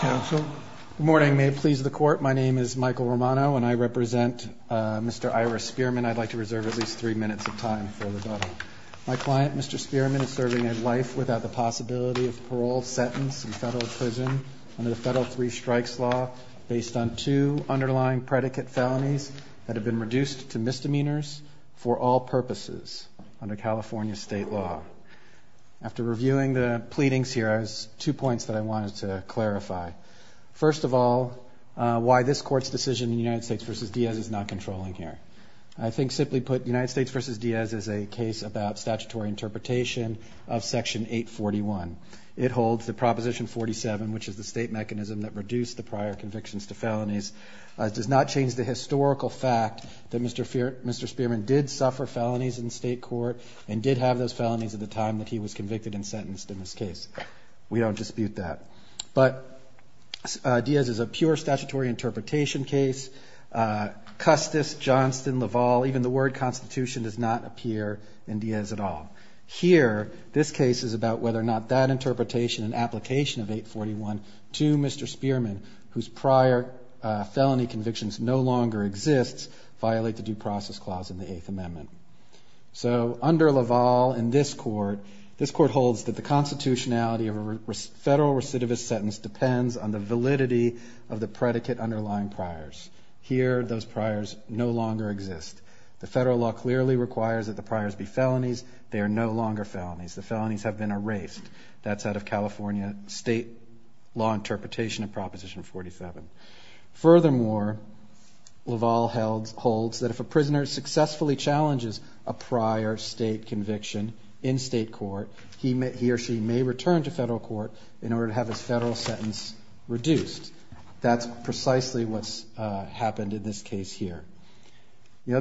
Good morning. May it please the Court, my name is Michael Romano and I represent Mr. Ira Spearman. I'd like to reserve at least three minutes of time for rebuttal. My client, Mr. Spearman, is serving a life without the possibility of parole, sentence, and federal imprisonment under the Federal Three Strikes Law based on two underlying predicate felonies that have been reduced to misdemeanors for all purposes under California state law. After reviewing the pleadings here, I have two points that I wanted to clarify. First of all, why this Court's decision in United States v. Diaz is not controlling here. I think simply put, United States v. Diaz is a case about statutory interpretation of Section 841. It holds that Proposition 47, which is the state mechanism that reduced the prior convictions to felonies, does not change the historical fact that Mr. Spearman did suffer felonies in state court and did have those felonies at the time that he was convicted and sentenced in this case. We don't dispute that. But Diaz is a pure statutory interpretation case. Custis, Johnston, Laval, even the word Constitution does not appear in Diaz at all. Here, this case is about whether or not that interpretation and application of 841 to Mr. Spearman, whose prior felony convictions no longer exist, violate the Due Process Clause in the Eighth Amendment. So under Laval in this Court, this Court holds that the constitutionality of a federal recidivist sentence depends on the validity of the predicate underlying priors. Here, those priors no longer exist. The federal law clearly requires that the priors be felonies. They are no longer felonies. The felonies have been erased. That's out of California state law interpretation of Proposition 47. Furthermore, Laval holds that if a prisoner successfully challenges a prior state conviction in state court, he or she may return to federal court in order to have his federal sentence reduced. That's precisely what's happened in this case here. The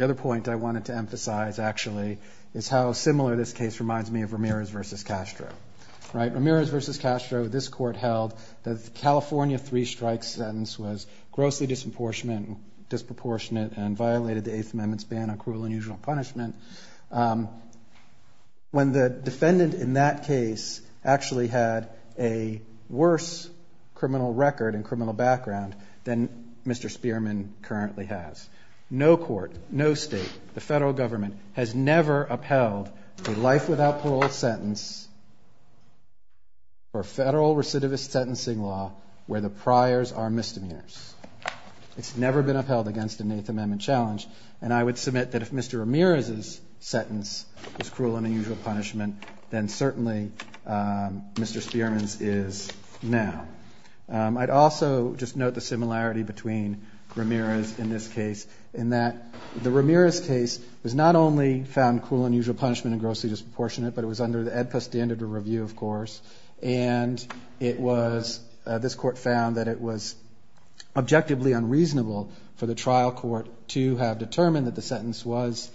other point I wanted to emphasize, actually, is how similar this case reminds me of Ramirez v. Castro. Ramirez v. Castro, this Court held that the California three-strike sentence was grossly disproportionate and violated the Eighth Amendment's ban on cruel and unusual punishment. When the defendant in that case actually had a worse criminal record and criminal background than Mr. Spearman currently has, no court, no state, the federal government has never upheld a life without parole sentence or federal recidivist sentencing law where the priors are misdemeanors. It's never been upheld against an Eighth Amendment challenge. And I would submit that if Mr. Ramirez's sentence was cruel and unusual punishment, then certainly Mr. Spearman's is now. I'd also just note the similarity between Ramirez in this case, in that the Ramirez case was not only found cruel and unusual punishment and grossly disproportionate, but it was under the AEDPA standard of review, of course. And it was, this Court found that it was objectively unreasonable for the trial court to have determined that the sentence was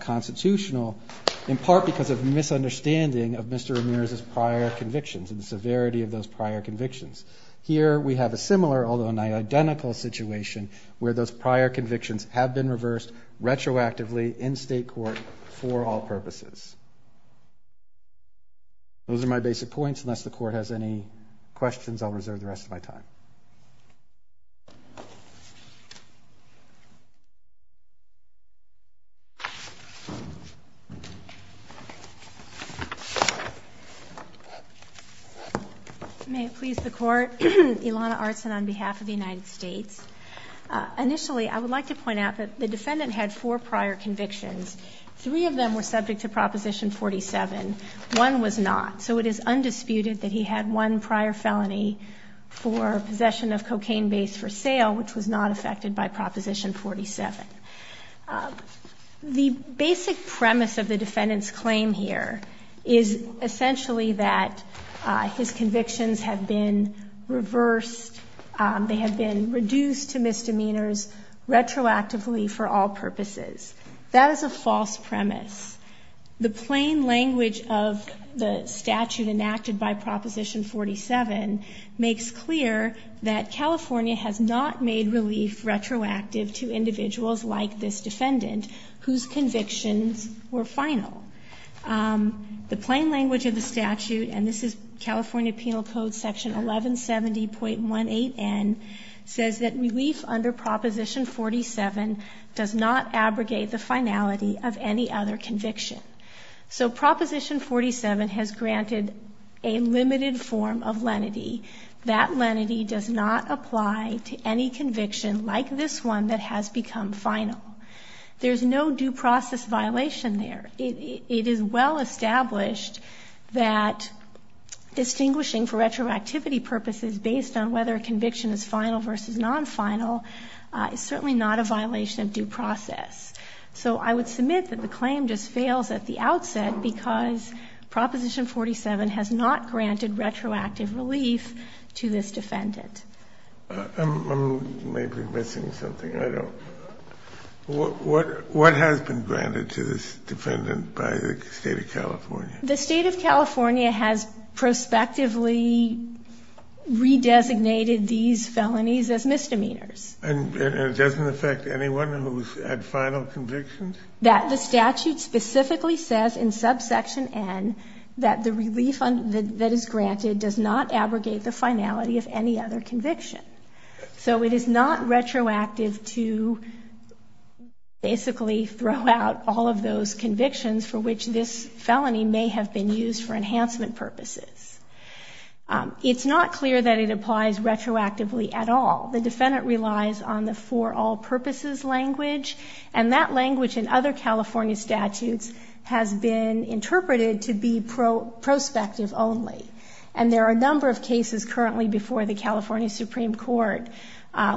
constitutional, in part because of misunderstanding of Mr. Ramirez's prior convictions and the severity of those prior convictions. Here we have a similar, although not identical, situation where those prior convictions have been reversed retroactively in state court for all purposes. Those are my basic points. Unless the Court has any questions, I'll reserve the rest of my time. May it please the Court. Ilana Artsin on behalf of the United States. Initially, I would like to point out that the defendant had four prior convictions. Three of them were subject to Proposition 47. One was not. So it is undisputed that he had one prior felony for possession of cocaine base for sale, which was not affected by Proposition 47. The basic premise of the defendant's claim here is essentially that his convictions have been reversed. They have been reduced to misdemeanors retroactively for all purposes. That is a false premise. The plain language of the statute enacted by Proposition 47 makes clear that California has not made relief retroactive to individuals like this defendant, whose convictions were final. The plain language of the statute, and this is California Penal Code Section 1170.18n, says that relief under Proposition 47 does not abrogate the finality of any other conviction. So Proposition 47 has granted a limited form of lenity. That lenity does not apply to any conviction like this one that has become final. There's no due process violation there. It is well established that distinguishing for retroactivity purposes based on whether a conviction is final versus non-final is certainly not a violation of due process. So I would submit that the claim just fails at the outset because Proposition 47 has not granted retroactive relief to this defendant. I'm maybe missing something. I don't know. What has been granted to this defendant by the State of California? The State of California has prospectively redesignated these felonies as misdemeanors. And it doesn't affect anyone who's had final convictions? That the statute specifically says in subsection N that the relief that is granted does not abrogate the finality of any other conviction. So it is not retroactive to basically throw out all of those convictions for which this felony may have been used for enhancement purposes. It's not clear that it applies retroactively at all. The defendant relies on the for all purposes language, and that language in other California statutes has been interpreted to be prospective only. And there are a number of cases currently before the California Supreme Court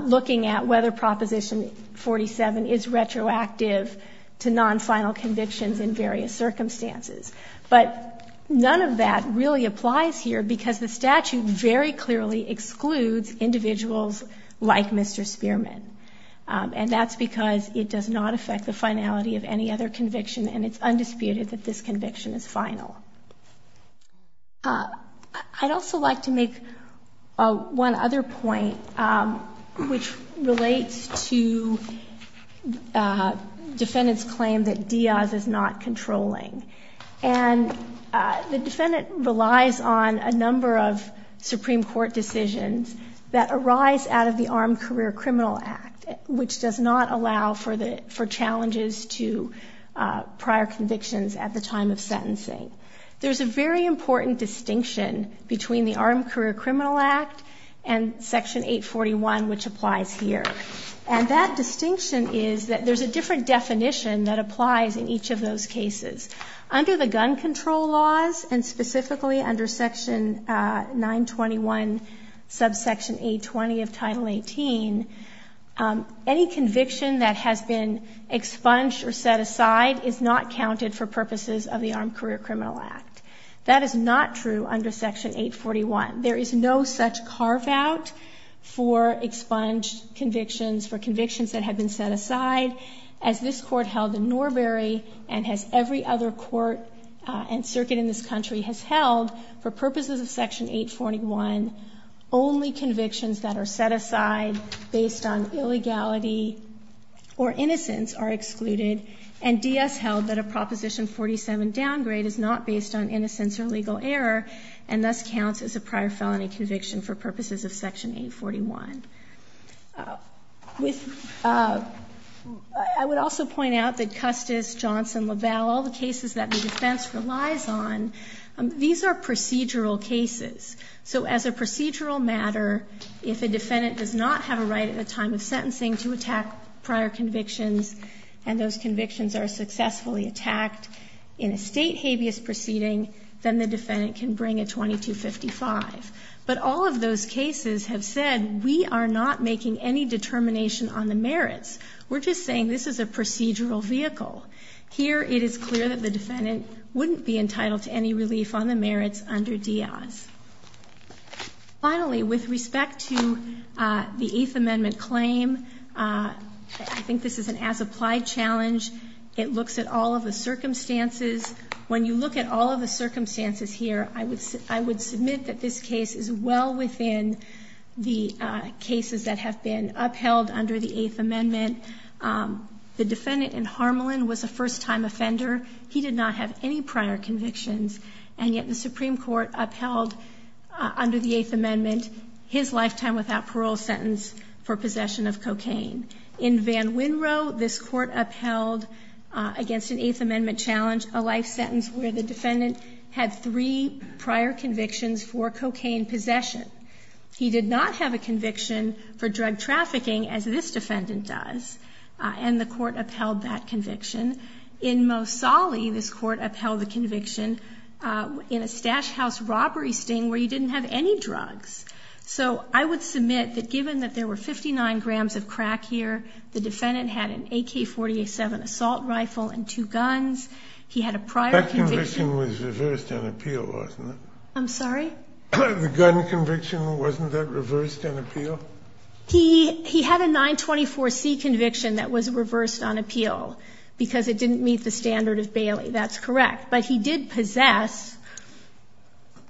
looking at whether Proposition 47 is retroactive to non-final convictions in various circumstances. But none of that really applies here because the statute very clearly excludes individuals like Mr. Spearman. And that's because it does not affect the finality of any other conviction, and it's undisputed that this conviction is final. I'd also like to make one other point, which relates to defendant's claim that Diaz is not controlling. And the defendant relies on a number of Supreme Court decisions that arise out of the Armed Career Criminal Act, which does not allow for challenges to prior convictions at the time of sentencing. There's a very important distinction between the Armed Career Criminal Act and Section 841, which applies here. And that distinction is that there's a different definition that applies in each of those cases. Under the gun control laws, and specifically under Section 921, subsection 820 of Title 18, any conviction that has been expunged or set aside is not counted for purposes of the Armed Career Criminal Act. That is not true under Section 841. There is no such carve-out for expunged convictions, for convictions that have been set aside, as this Court held in Norbury, and as every other court and circuit in this country has held, for purposes of Section 841, only convictions that are set aside based on illegality or innocence are excluded. And Diaz held that a Proposition 47 downgrade is not based on innocence or legal error, and thus counts as a prior felony conviction for purposes of Section 841. I would also point out that Custis, Johnson, LaValle, all the cases that the defense relies on, these are procedural cases. So as a procedural matter, if a defendant does not have a right at the time of sentencing to attack prior convictions, and those convictions are successfully attacked in a state habeas proceeding, then the defendant can bring a 2255. But all of those cases have said, we are not making any determination on the merits. We're just saying this is a procedural vehicle. Here it is clear that the defendant wouldn't be entitled to any relief on the merits under Diaz. Finally, with respect to the Eighth Amendment claim, I think this is an as-applied challenge. It looks at all of the circumstances. When you look at all of the circumstances here, I would submit that this case is well within the cases that have been upheld under the Eighth Amendment. The defendant in Harmelin was a first-time offender. He did not have any prior convictions, and yet the Supreme Court upheld under the Eighth Amendment In Van Winrow, this Court upheld against an Eighth Amendment challenge a life sentence where the defendant had three prior convictions for cocaine possession. He did not have a conviction for drug trafficking, as this defendant does, and the Court upheld that conviction. In Mosali, this Court upheld the conviction in a stash house robbery sting where you didn't have any drugs. So I would submit that given that there were 59 grams of crack here, the defendant had an AK-47 assault rifle and two guns. He had a prior conviction. That conviction was reversed on appeal, wasn't it? I'm sorry? The gun conviction, wasn't that reversed on appeal? He had a 924C conviction that was reversed on appeal because it didn't meet the standard of Bailey. That's correct. But he did possess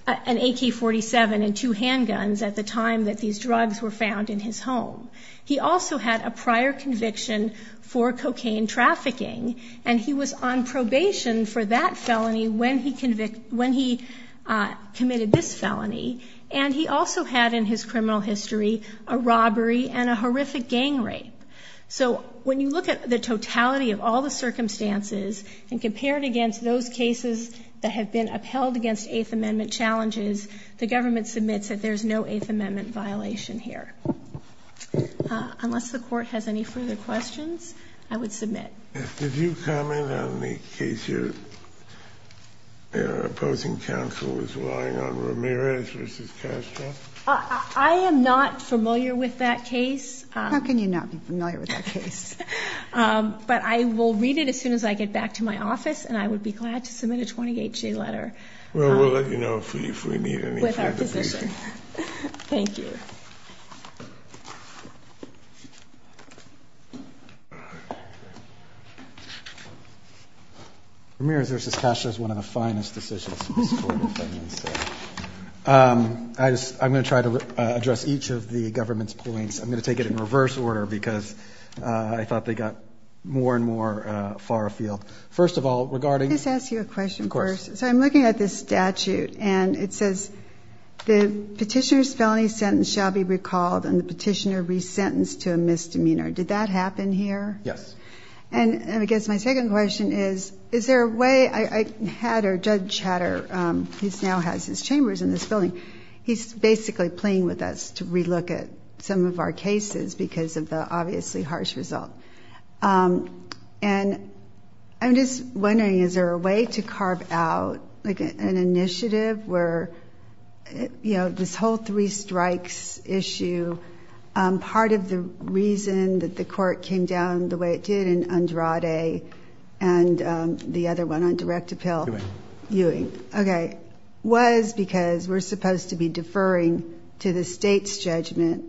an AK-47 and two handguns at the time that these drugs were found in his home. He also had a prior conviction for cocaine trafficking, and he was on probation for that felony when he committed this felony. And he also had in his criminal history a robbery and a horrific gang rape. So when you look at the totality of all the circumstances and compare it against those cases that have been upheld against Eighth Amendment challenges, the government submits that there's no Eighth Amendment violation here. Unless the Court has any further questions, I would submit. Did you comment on the case your opposing counsel was relying on, Ramirez v. Castro? I am not familiar with that case. How can you not be familiar with that case? But I will read it as soon as I get back to my office, and I would be glad to submit a 20-HJ letter. Well, we'll let you know if we need anything. With our position. Thank you. Ramirez v. Castro is one of the finest decisions in this Court of Federalist Act. I'm going to try to address each of the government's points. I'm going to take it in reverse order because I thought they got more and more far afield. First of all, regarding- Can I just ask you a question first? Of course. So I'm looking at this statute, and it says, The petitioner's felony sentence shall be recalled and the petitioner resentenced to a misdemeanor. Did that happen here? Yes. And I guess my second question is, is there a way? Judge Hatter, who now has his chambers in this building, he's basically playing with us to relook at some of our cases because of the obviously harsh result. And I'm just wondering, is there a way to carve out an initiative where this whole three strikes issue, part of the reason that the court came down the way it did in Andrade and the other one on direct appeal- Ewing. Ewing. Okay. Was because we're supposed to be deferring to the state's judgment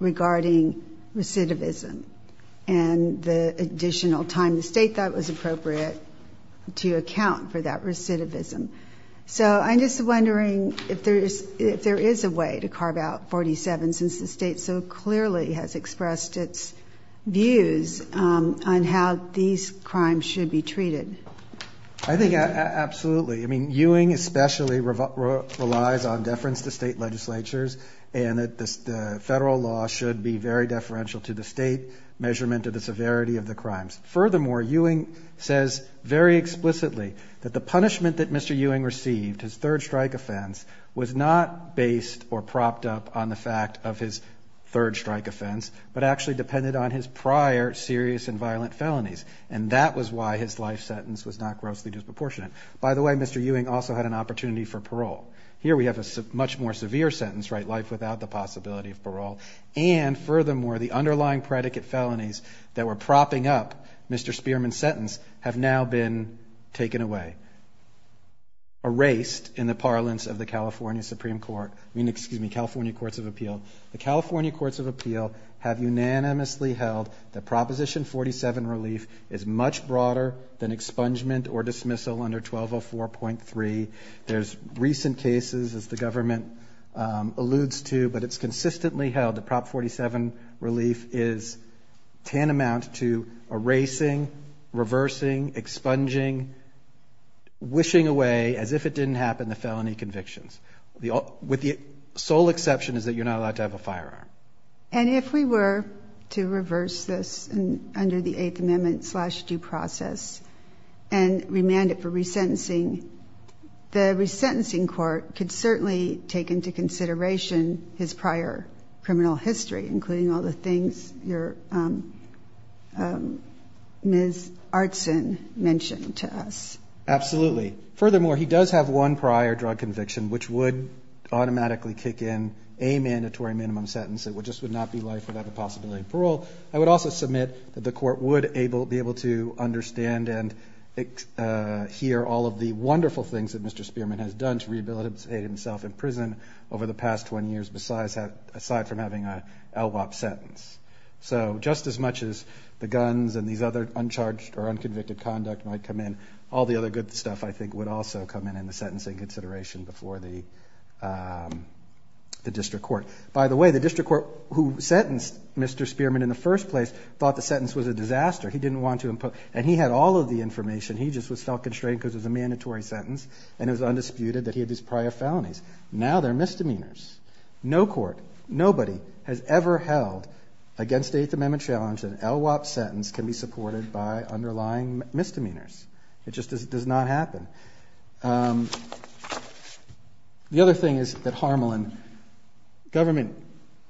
regarding recidivism and the additional time the state thought was appropriate to account for that recidivism. So I'm just wondering if there is a way to carve out 47 since the state so clearly has expressed its views on how these crimes should be treated. I think absolutely. I mean, Ewing especially relies on deference to state legislatures and that the federal law should be very deferential to the state measurement of the severity of the crimes. Furthermore, Ewing says very explicitly that the punishment that Mr. Ewing received, his third strike offense, was not based or propped up on the fact of his third strike offense, but actually depended on his prior serious and violent felonies. And that was why his life sentence was not grossly disproportionate. By the way, Mr. Ewing also had an opportunity for parole. Here we have a much more severe sentence, right? Life without the possibility of parole. And furthermore, the underlying predicate felonies that were propping up Mr. Spearman's sentence have now been taken away, erased in the parlance of the California Supreme Court. I mean, excuse me, California Courts of Appeal. The California Courts of Appeal have unanimously held that Proposition 47 relief is much broader than expungement or dismissal under 1204.3. There's recent cases, as the government alludes to, but it's consistently held that Prop 47 relief is tantamount to erasing, reversing, expunging, wishing away, as if it didn't happen, the felony convictions. With the sole exception is that you're not allowed to have a firearm. And if we were to reverse this under the Eighth Amendment slash due process and remand it for resentencing, the resentencing court could certainly take into consideration his prior criminal history, including all the things Ms. Artson mentioned to us. Absolutely. Furthermore, he does have one prior drug conviction, which would automatically kick in a mandatory minimum sentence. It just would not be life without the possibility of parole. I would also submit that the court would be able to understand and hear all of the wonderful things that Mr. Spearman has done to rehabilitate himself in prison over the past 20 years, aside from having an LWOP sentence. So just as much as the guns and these other uncharged or unconvicted conduct might come in, all the other good stuff I think would also come in in the sentencing consideration before the district court. By the way, the district court who sentenced Mr. Spearman in the first place thought the sentence was a disaster. He didn't want to impose. And he had all of the information. He just felt constrained because it was a mandatory sentence and it was undisputed that he had these prior felonies. Now they're misdemeanors. No court, nobody has ever held against the Eighth Amendment challenge that an LWOP sentence can be supported by underlying misdemeanors. It just does not happen. The other thing is that Harmelin, government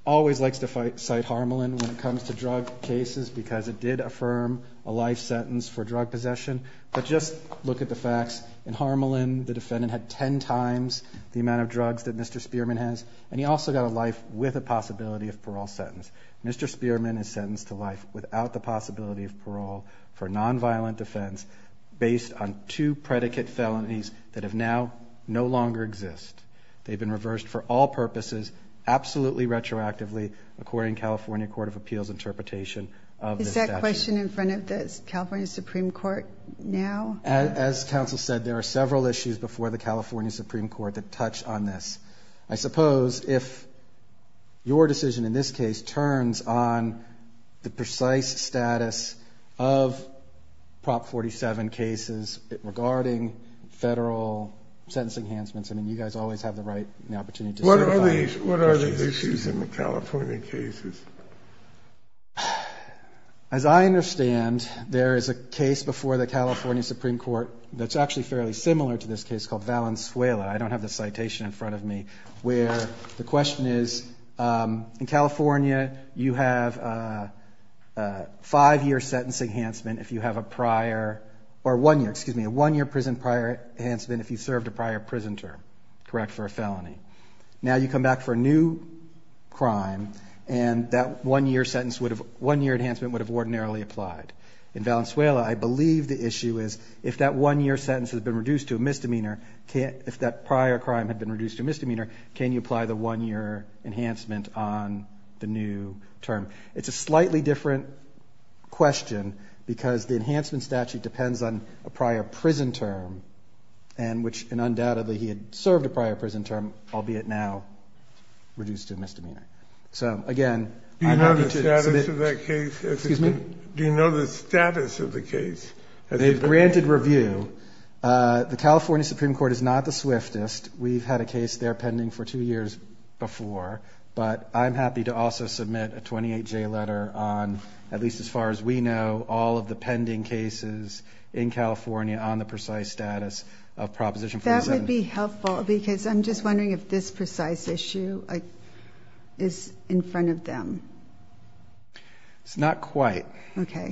always likes to cite Harmelin when it comes to drug cases because it did affirm a life sentence for drug possession. But just look at the facts. In Harmelin, the defendant had ten times the amount of drugs that Mr. Spearman has, and he also got a life with a possibility of parole sentence. Mr. Spearman is sentenced to life without the possibility of parole for nonviolent defense based on two predicate felonies that have now no longer exist. They've been reversed for all purposes absolutely retroactively according to California Court of Appeals interpretation of this statute. Is that question in front of the California Supreme Court now? As counsel said, there are several issues before the California Supreme Court that touch on this. I suppose if your decision in this case turns on the precise status of Prop 47 cases regarding federal sentencing enhancements, I mean, you guys always have the right and the opportunity to certify. What are the issues in the California cases? As I understand, there is a case before the California Supreme Court that's actually fairly similar to this case called Valenzuela. I don't have the citation in front of me where the question is, in California you have a one-year prison prior enhancement if you served a prior prison term, correct, for a felony. Now you come back for a new crime, and that one-year enhancement would have ordinarily applied. In Valenzuela, I believe the issue is if that one-year sentence has been reduced to a misdemeanor, if that prior crime had been reduced to a misdemeanor, can you apply the one-year enhancement on the new term? It's a slightly different question because the enhancement statute depends on a prior prison term, which undoubtedly he had served a prior prison term, albeit now reduced to a misdemeanor. Do you know the status of the case? They've granted review. The California Supreme Court is not the swiftest. We've had a case there pending for two years before, but I'm happy to also submit a 28-J letter on, at least as far as we know, all of the pending cases in California on the precise status of Proposition 47. That would be helpful because I'm just wondering if this precise issue is in front of them. It's not quite,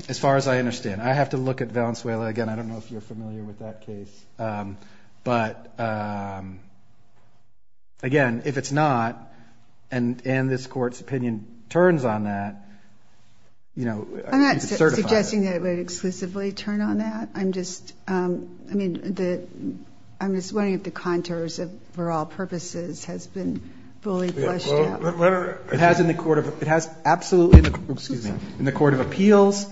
as far as I understand. I have to look at Valenzuela again. I don't know if you're familiar with that case. But, again, if it's not and this Court's opinion turns on that, you know, you could certify it. I'm not suggesting that it would exclusively turn on that. I'm just wondering if the contours for all purposes has been fully flushed out. It has in the Court of Appeals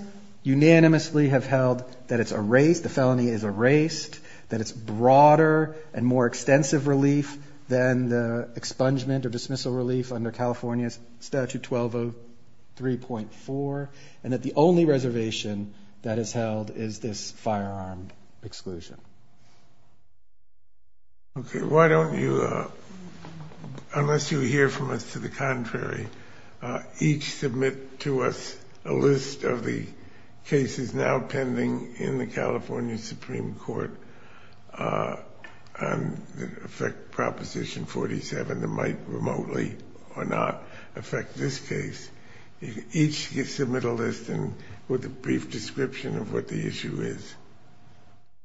unanimously have held that it's erased, the felony is erased, that it's broader and more extensive relief than the expungement or dismissal relief under California Statute 1203.4, and that the only reservation that is held is this firearm exclusion. Okay. Why don't you, unless you hear from us to the contrary, each submit to us a list of the cases now pending in the California Supreme Court that affect Proposition 47 that might remotely or not affect this case. Each submit a list with a brief description of what the issue is.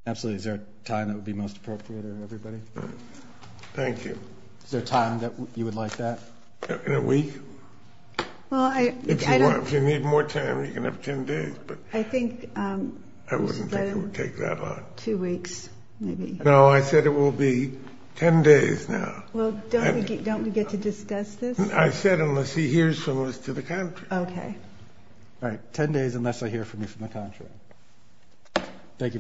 Absolutely. Is there a time that would be most appropriate for everybody? Thank you. Is there a time that you would like that? In a week? If you need more time, you can have 10 days, but I wouldn't think it would take that long. Two weeks, maybe. No, I said it will be 10 days now. Well, don't we get to discuss this? I said unless he hears from us to the contrary. Okay. All right, 10 days unless I hear from you from the contrary. Thank you very much.